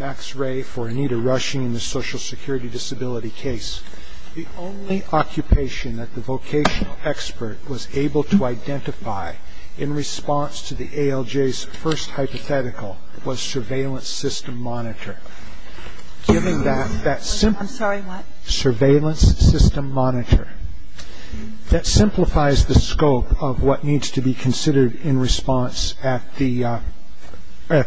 Max Ray for Anita Rushing in the Social Security Disability case. The only occupation that the vocational expert was able to identify in response to the ALJ's first hypothetical was Surveillance System Monitor. That simplifies the scope of what needs to be considered in response at the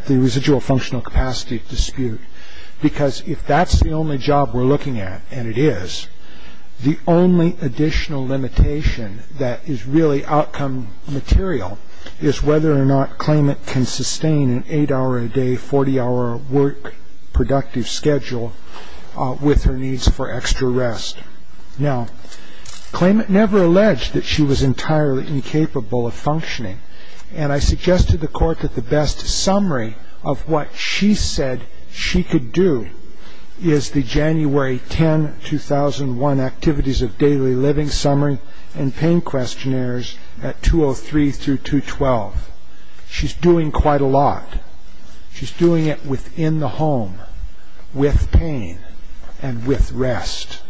residual functional capacity dispute. Because if that's the only job we're looking at, and it is, the only additional limitation that is really outcome material is whether or not Klayment can sustain an 8-hour-a-day, 40-hour work productive schedule with her needs for extra rest. Now, Klayment never alleged that she was entirely incapable of functioning, and I suggest to the Court that the best summary of what she said she could do is the January 10, 2001 Activities of Daily Living Summary and Pain Questionnaires at 203-212. She's doing quite a lot. She's doing it within the home, with pain, and with rest.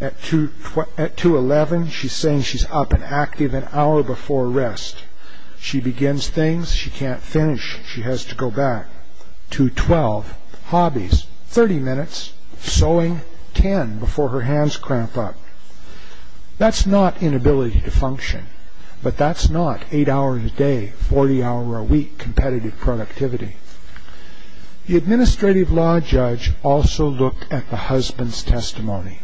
At 211, she's saying she's up and active an hour before rest. She begins things she can't finish. She has to go back. 212, Hobbies, 30 minutes, sewing, 10 before her hands cramp up. That's not inability to function, but that's not 8-hour-a-day, 40-hour-a-week competitive productivity. The administrative law judge also looked at the husband's testimony,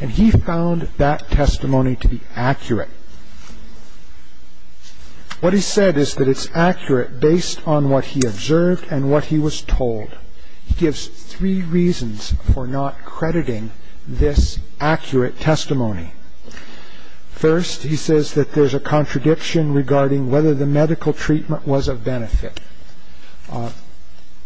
and he found that testimony to be accurate. What he said is that it's accurate based on what he observed and what he was told. He gives three reasons for not crediting this accurate testimony. First, he says that there's a contradiction regarding whether the medical treatment was of benefit.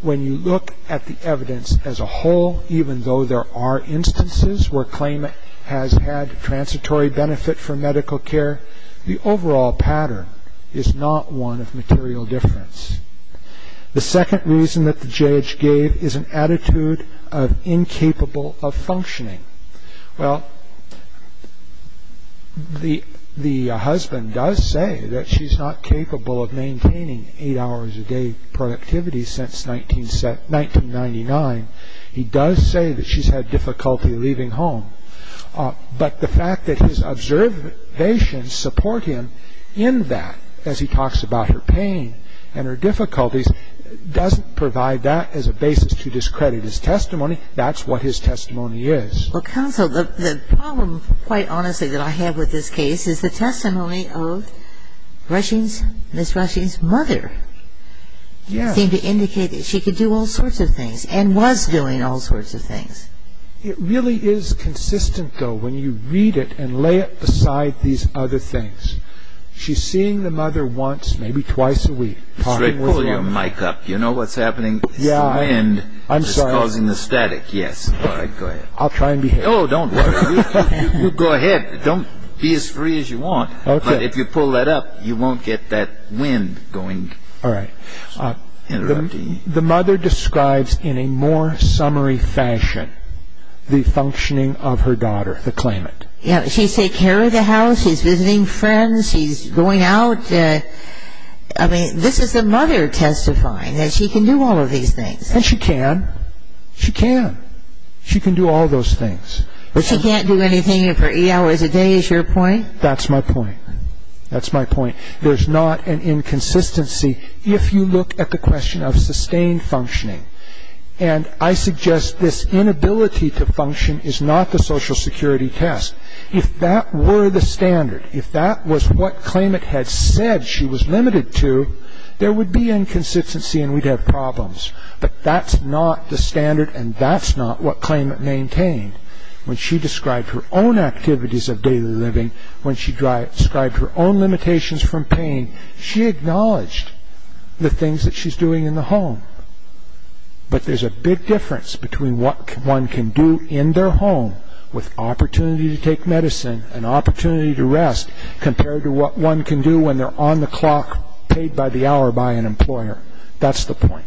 When you look at the evidence as a whole, even though there are instances where claimant has had transitory benefit from medical care, the overall pattern is not one of material difference. The second reason that the judge gave is an attitude of incapable of functioning. Well, the husband does say that she's not capable of maintaining 8-hour-a-day productivity since 1999. He does say that she's had difficulty leaving home, but the fact that his observations support him in that as he talks about her pain and her difficulties doesn't provide that as a basis to discredit his testimony. That's what his testimony is. Well, counsel, the problem, quite honestly, that I have with this case is the testimony of Ms. Rushing's mother. Yes. She seemed to indicate that she could do all sorts of things and was doing all sorts of things. It really is consistent, though, when you read it and lay it beside these other things. She's seeing the mother once, maybe twice a week. Mr. Ray, pull your mic up. You know what's happening? It's the wind. I'm sorry. It's causing the static. Yes. All right, go ahead. I'll try and behave. Oh, don't worry. You go ahead. Don't be as free as you want. Okay. But if you pull that up, you won't get that wind going. All right. The mother describes in a more summary fashion the functioning of her daughter, the claimant. Yes. She's taking care of the house. She's visiting friends. She's going out. I mean, this is the mother testifying, that she can do all of these things. And she can. She can. She can do all those things. But she can't do anything for eight hours a day, is your point? That's my point. That's my point. There's not an inconsistency if you look at the question of sustained functioning. And I suggest this inability to function is not the Social Security test. If that were the standard, if that was what claimant had said she was limited to, there would be inconsistency and we'd have problems. But that's not the standard, and that's not what claimant maintained. When she described her own activities of daily living, when she described her own limitations from pain, she acknowledged the things that she's doing in the home. But there's a big difference between what one can do in their home with opportunity to take medicine and opportunity to rest, compared to what one can do when they're on the clock, paid by the hour by an employer. That's the point.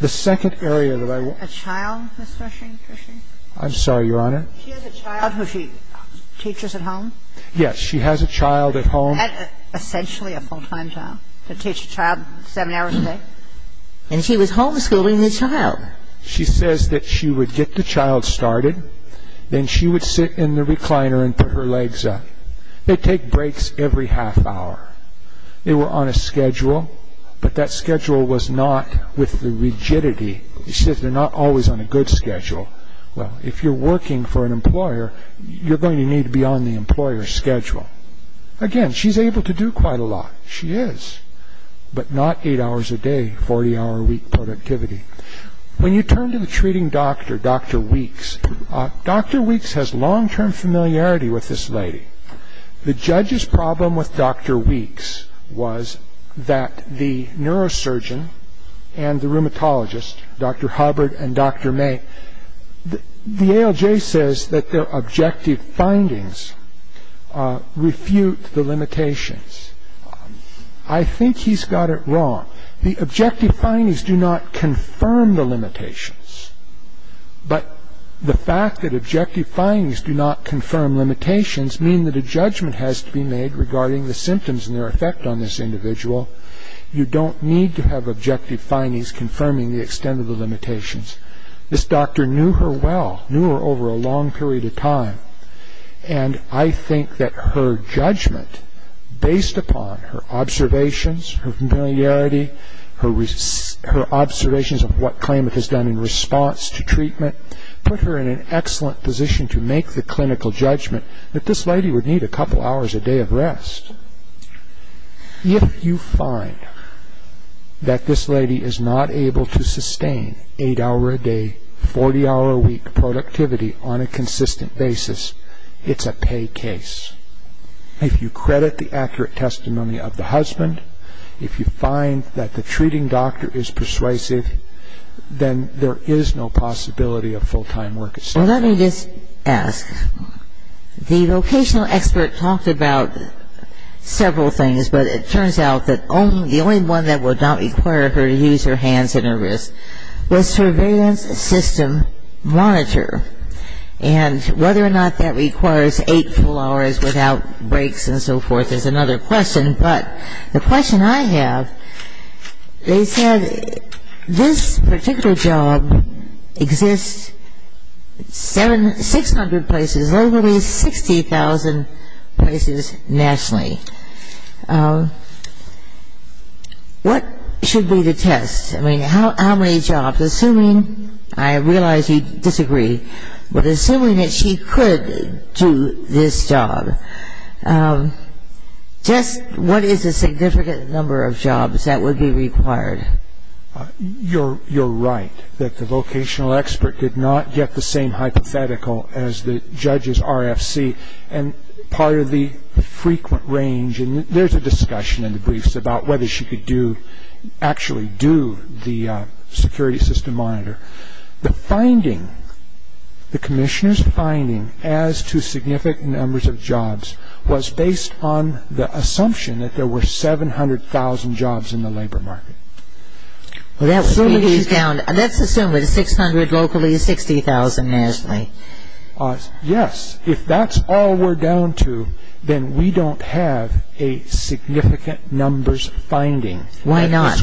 The second area that I want to make. A child, Mr. Hershing? I'm sorry, Your Honor. She has a child. Of who she teaches at home? Yes. She has a child at home. Essentially a full-time child. To teach a child seven hours a day. And she was homeschooling the child. She says that she would get the child started, then she would sit in the recliner and put her legs up. They take breaks every half hour. They were on a schedule, but that schedule was not with the rigidity. She says they're not always on a good schedule. Well, if you're working for an employer, you're going to need to be on the employer's schedule. Again, she's able to do quite a lot. She is. But not eight hours a day, 40-hour week productivity. When you turn to the treating doctor, Dr. Weeks, Dr. Weeks has long-term familiarity with this lady. The judge's problem with Dr. Weeks was that the neurosurgeon and the rheumatologist, Dr. Hubbard and Dr. May, the ALJ says that their objective findings refute the limitations. I think he's got it wrong. The objective findings do not confirm the limitations. But the fact that objective findings do not confirm limitations means that a judgment has to be made regarding the symptoms and their effect on this individual. You don't need to have objective findings confirming the extent of the limitations. This doctor knew her well, knew her over a long period of time, and I think that her judgment, based upon her observations, her familiarity, her observations of what Klamath has done in response to treatment, put her in an excellent position to make the clinical judgment that this lady would need a couple hours a day of rest. If you find that this lady is not able to sustain eight hours a day, 40-hour week productivity on a consistent basis, it's a pay case. If you credit the accurate testimony of the husband, if you find that the treating doctor is persuasive, then there is no possibility of full-time work. Well, let me just ask. The vocational expert talked about several things, but it turns out that the only one that would not require her to use her hands and her wrists was surveillance system monitor. And whether or not that requires eight full hours without breaks and so forth is another question, but the question I have, they said this particular job exists 600 places, literally 60,000 places nationally. What should be the test? I mean, how many jobs? Assuming, I realize you disagree, but assuming that she could do this job, just what is the significant number of jobs that would be required? You're right that the vocational expert did not get the same hypothetical as the judge's RFC. And part of the frequent range, and there's a discussion in the briefs about whether she could do, actually do the security system monitor. The finding, the commissioner's finding as to significant numbers of jobs was based on the assumption that there were 700,000 jobs in the labor market. Let's assume that 600 locally is 60,000 nationally. Yes. If that's all we're down to, then we don't have a significant numbers finding. Why not?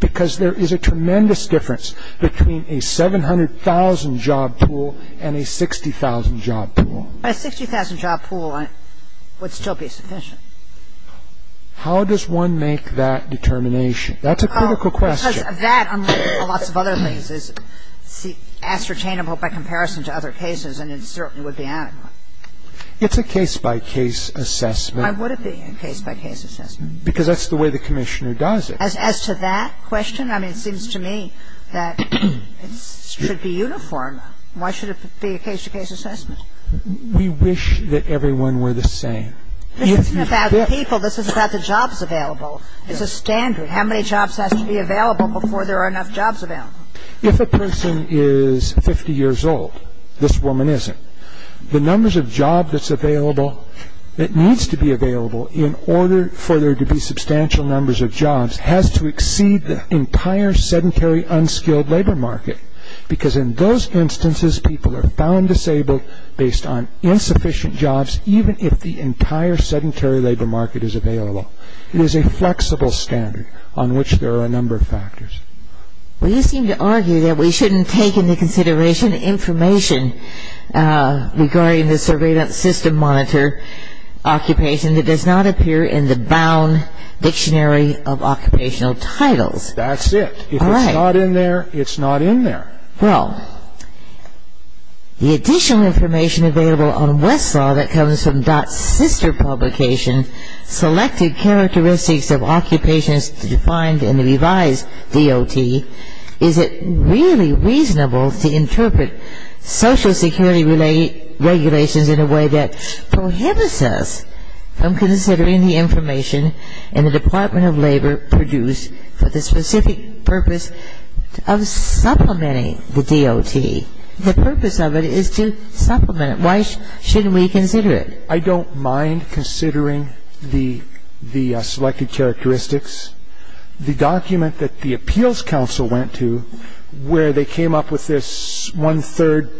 Because there is a tremendous difference between a 700,000 job pool and a 60,000 job pool. A 60,000 job pool would still be sufficient. How does one make that determination? That's a critical question. Because that, unlike lots of other things, is ascertainable by comparison to other cases and it certainly would be adequate. It's a case-by-case assessment. Why would it be a case-by-case assessment? Because that's the way the commissioner does it. As to that question, I mean, it seems to me that it should be uniform. Why should it be a case-by-case assessment? We wish that everyone were the same. This isn't about people. This is about the jobs available. It's a standard. How many jobs has to be available before there are enough jobs available? If a person is 50 years old, this woman isn't, the numbers of jobs that's available, that needs to be available in order for there to be substantial numbers of jobs, has to exceed the entire sedentary, unskilled labor market. Because in those instances, people are found disabled based on insufficient jobs, even if the entire sedentary labor market is available. It is a flexible standard on which there are a number of factors. Well, you seem to argue that we shouldn't take into consideration information regarding the Survey.System Monitor occupation that does not appear in the Bound Dictionary of Occupational Titles. That's it. If it's not in there, it's not in there. Well, the additional information available on Westlaw that comes from Dot's sister publication, Selected Characteristics of Occupations Defined in the Revised DOT, is it really reasonable to interpret social security regulations in a way that prohibits us from considering the information in the Department of Labor produced for the specific purpose of supplementing the DOT? The purpose of it is to supplement. Why shouldn't we consider it? I don't mind considering the Selected Characteristics. The document that the appeals counsel went to where they came up with this one-third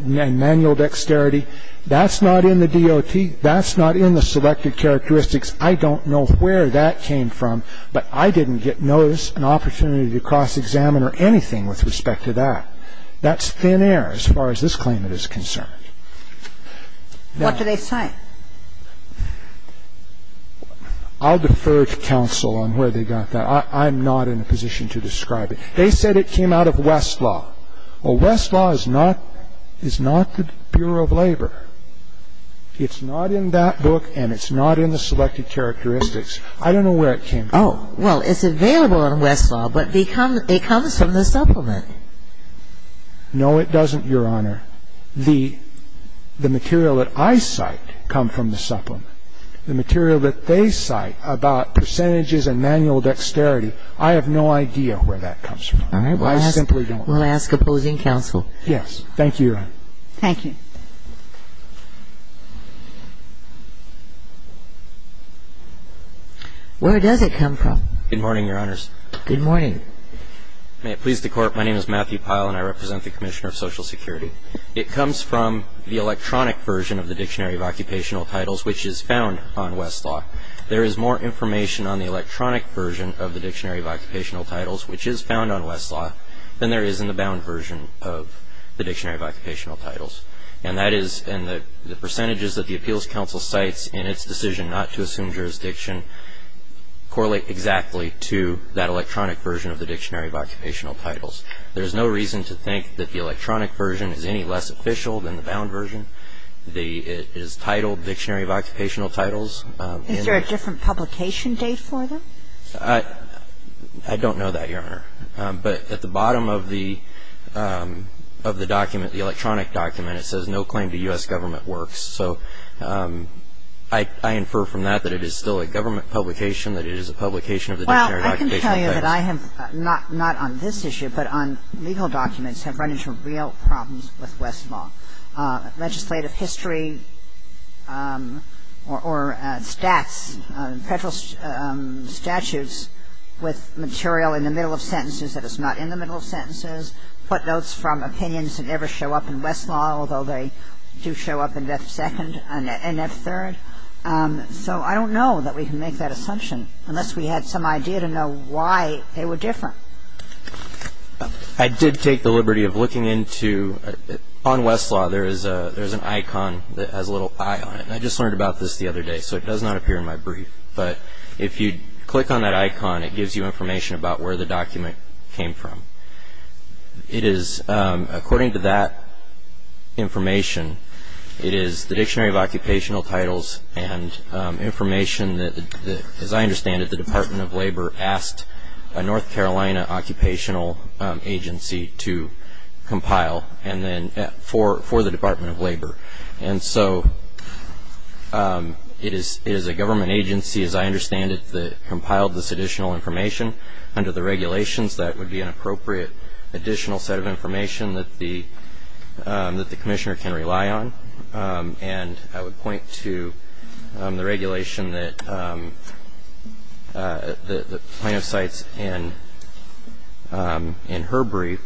manual dexterity, that's not in the DOT. That's not in the Selected Characteristics. I don't know where that came from, but I didn't get notice, an opportunity to cross-examine or anything with respect to that. That's thin air as far as this claimant is concerned. What do they say? I'll defer to counsel on where they got that. I'm not in a position to describe it. They said it came out of Westlaw. Well, Westlaw is not the Bureau of Labor. It's not in that book, and it's not in the Selected Characteristics. I don't know where it came from. Oh, well, it's available on Westlaw, but it comes from the supplement. No, it doesn't, Your Honor. I don't know where the material that I cite come from the supplement. The material that they cite about percentages and manual dexterity, I have no idea where that comes from. I simply don't. All right. We'll ask opposing counsel. Yes. Thank you, Your Honor. Thank you. Where does it come from? Good morning, Your Honors. Good morning. May it please the Court, my name is Matthew Pyle, and I represent the Commissioner of Social Security. It comes from the electronic version of the Dictionary of Occupational Titles, which is found on Westlaw. There is more information on the electronic version of the Dictionary of Occupational Titles, which is found on Westlaw, than there is in the bound version of the Dictionary of Occupational Titles. And that is in the percentages that the Appeals Council cites in its decision not to assume jurisdiction and correlate exactly to that electronic version of the Dictionary of Occupational Titles. There is no reason to think that the electronic version is any less official than the bound version. It is titled Dictionary of Occupational Titles. Is there a different publication date for them? I don't know that, Your Honor. But at the bottom of the document, the electronic document, it says no claim to U.S. government works. So I infer from that that it is still a government publication, that it is a publication of the Dictionary of Occupational Titles. Well, I can tell you that I have not on this issue, but on legal documents, have run into real problems with Westlaw. Legislative history or stats, federal statutes with material in the middle of sentences that is not in the middle of sentences, footnotes from opinions that never show up in Westlaw, although they do show up in F2 and F3. So I don't know that we can make that assumption unless we had some idea to know why they were different. I did take the liberty of looking into, on Westlaw, there is an icon that has a little eye on it. And I just learned about this the other day, so it does not appear in my brief. But if you click on that icon, it gives you information about where the document came from. It is, according to that information, it is the Dictionary of Occupational Titles and information that, as I understand it, the Department of Labor asked a North Carolina occupational agency to compile for the Department of Labor. And so it is a government agency, as I understand it, that compiled this additional information under the regulations. That would be an appropriate additional set of information that the commissioner can rely on. And I would point to the regulation that Plano Cites in her brief,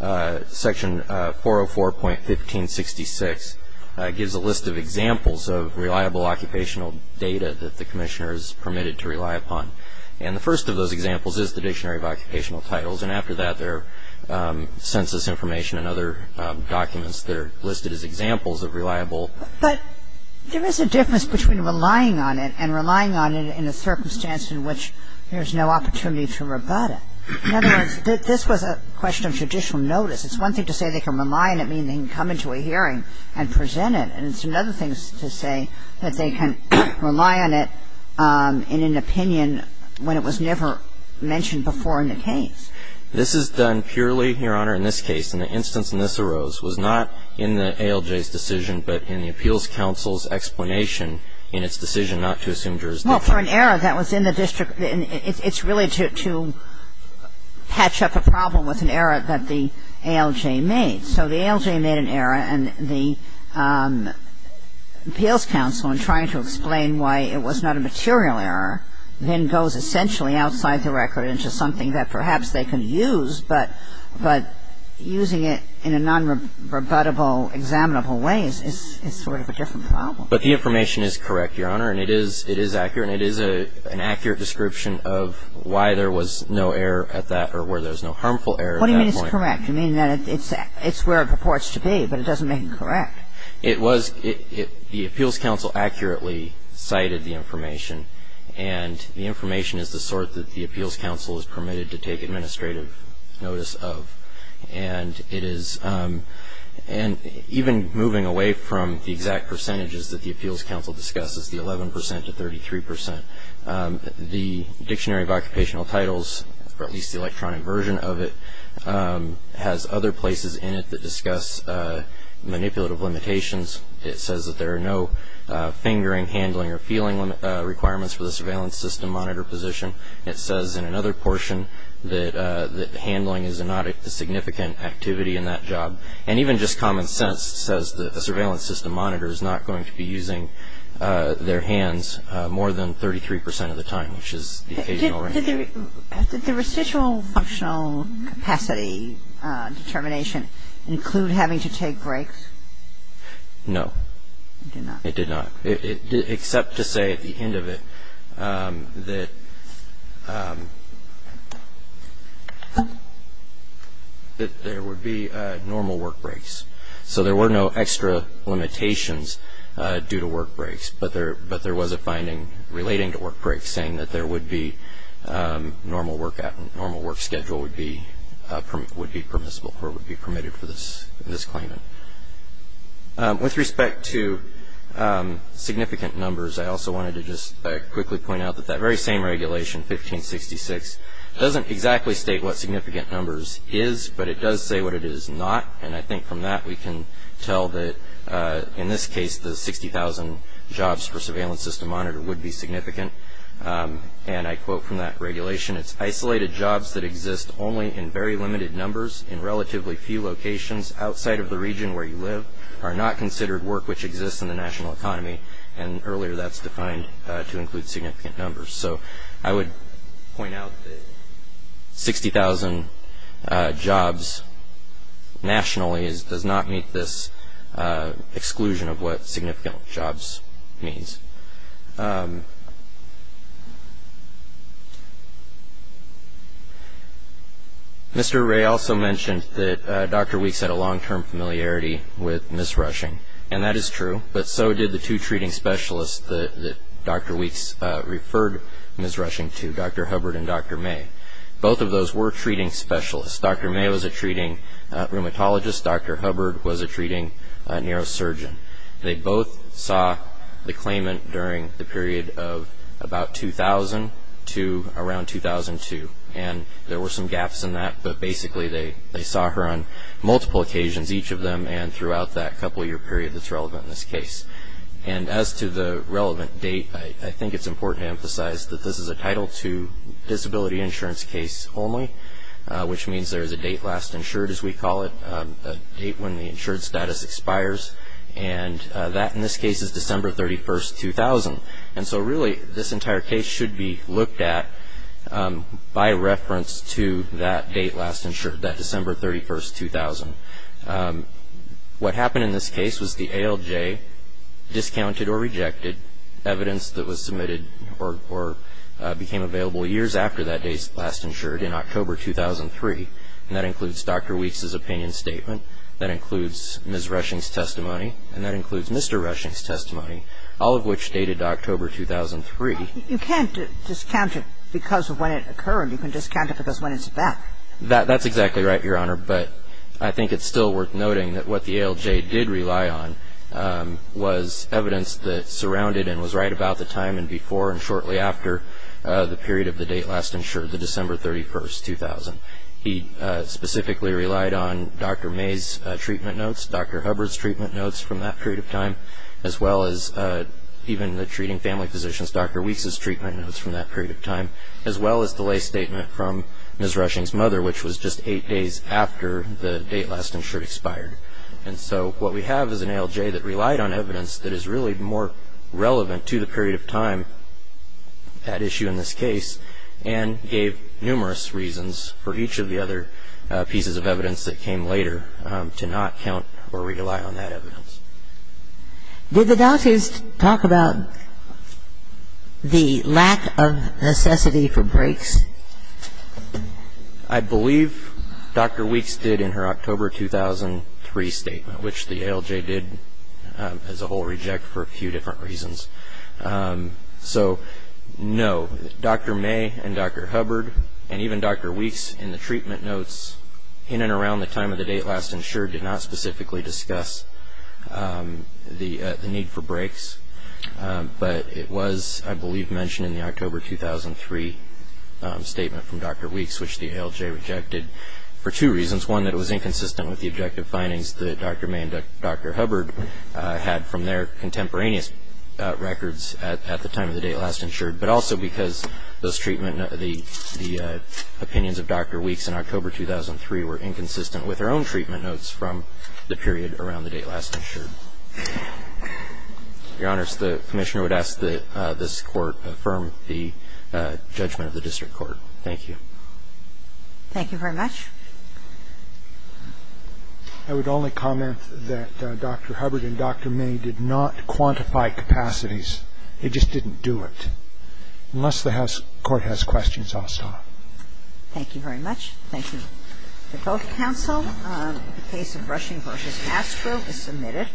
Section 404.1566, gives a list of examples of reliable occupational data that the commissioner is permitted to rely upon. And the first of those examples is the Dictionary of Occupational Titles. And after that, there are census information and other documents that are listed as examples of reliable. But there is a difference between relying on it and relying on it in a circumstance in which there is no opportunity to rebut it. In other words, this was a question of judicial notice. It's one thing to say they can rely on it, meaning they can come into a hearing and present it. And it's another thing to say that they can rely on it in an opinion when it was never mentioned before in the case. This is done purely, Your Honor, in this case. And the instance in which this arose was not in the ALJ's decision, but in the Appeals Council's explanation in its decision not to assume jurisdiction. Well, for an error that was in the district, it's really to patch up a problem with an error that the ALJ made. So the ALJ made an error, and the Appeals Council, in trying to explain why it was not a material error, then goes essentially outside the record into something that perhaps they can use. But using it in a nonrebuttable, examinable way is sort of a different problem. But the information is correct, Your Honor. And it is accurate. And it is an accurate description of why there was no error at that or where there was no harmful error at that point. It's correct. You mean that it's where it purports to be, but it doesn't make it correct. It was. The Appeals Council accurately cited the information. And the information is the sort that the Appeals Council is permitted to take administrative notice of. And it is. And even moving away from the exact percentages that the Appeals Council discusses, the 11 percent to 33 percent, the Dictionary of Occupational Titles, or at least the electronic version of it, has other places in it that discuss manipulative limitations. It says that there are no fingering, handling, or feeling requirements for the surveillance system monitor position. It says in another portion that handling is not a significant activity in that job. And even just common sense says that a surveillance system monitor is not going to be using their hands more than 33 percent of the time, which is the occasional range. Did the residual functional capacity determination include having to take breaks? No. It did not? It did not. Except to say at the end of it that there would be normal work breaks. So there were no extra limitations due to work breaks, but there was a finding relating to work breaks saying that there would be normal work schedule would be permissible or would be permitted for this claimant. With respect to significant numbers, I also wanted to just quickly point out that that very same regulation, 1566, doesn't exactly state what significant numbers is, but it does say what it is not. And I think from that we can tell that, in this case, the 60,000 jobs for surveillance system monitor would be significant. And I quote from that regulation, it's isolated jobs that exist only in very limited numbers in relatively few locations outside of the region where you live, are not considered work which exists in the national economy. And earlier that's defined to include significant numbers. So I would point out that 60,000 jobs nationally does not meet this exclusion of what significant jobs means. Mr. Ray also mentioned that Dr. Weeks had a long-term familiarity with Ms. Rushing, and that is true, but so did the two treating specialists that Dr. Weeks referred Ms. Rushing to, Dr. Hubbard and Dr. May. Both of those were treating specialists. Dr. May was a treating rheumatologist. Dr. Hubbard was a treating neurosurgeon. They both saw the claimant during the period of about 2000 to around 2002, and there were some gaps in that, but basically they saw her on multiple occasions, each of them, and throughout that couple-year period that's relevant in this case. And as to the relevant date, I think it's important to emphasize that this is a Title II disability insurance case only, which means there is a date last insured, as we call it, a date when the insured status expires. And that, in this case, is December 31, 2000. And so really this entire case should be looked at by reference to that date last insured, that December 31, 2000. What happened in this case was the ALJ discounted or rejected evidence that was submitted or became available years after that date last insured in October 2003, and that includes Dr. Weeks' opinion statement. That includes Ms. Reshing's testimony. And that includes Mr. Reshing's testimony, all of which dated October 2003. You can't discount it because of when it occurred. You can discount it because when it's back. That's exactly right, Your Honor. But I think it's still worth noting that what the ALJ did rely on was evidence that surrounded and was right about the time and before and shortly after the period of the date last insured, the December 31, 2000. He specifically relied on Dr. May's treatment notes, Dr. Hubbard's treatment notes from that period of time, as well as even the treating family physicians, Dr. Weeks' treatment notes from that period of time, as well as the lay statement from Ms. Reshing's mother, which was just eight days after the date last insured expired. And so what we have is an ALJ that relied on evidence that is really more relevant to the period of time, that issue in this case, and gave numerous reasons for each of the other pieces of evidence that came later to not count or rely on that evidence. Did the doctors talk about the lack of necessity for breaks? I believe Dr. Weeks did in her October 2003 statement, which the ALJ did as a whole reject for a few different reasons. So, no. Dr. May and Dr. Hubbard and even Dr. Weeks in the treatment notes in and around the time of the date last insured did not specifically discuss the need for breaks. But it was, I believe, mentioned in the October 2003 statement from Dr. Weeks, which the ALJ rejected for two reasons. One, that it was inconsistent with the objective findings that Dr. May and Dr. Hubbard had from their contemporaneous records at the time of the date last insured, but also because those treatment notes, the opinions of Dr. Weeks in October 2003 were inconsistent with her own treatment notes from the period around the date last insured. Your Honors, the Commissioner would ask that this Court affirm the judgment of the district court. Thank you. Thank you very much. I would only comment that Dr. Hubbard and Dr. May did not quantify capacities. They just didn't do it. Unless the Court has questions, I'll stop. Thank you very much. Thank you. The vote of counsel in the case of Rushing v. Astro is submitted.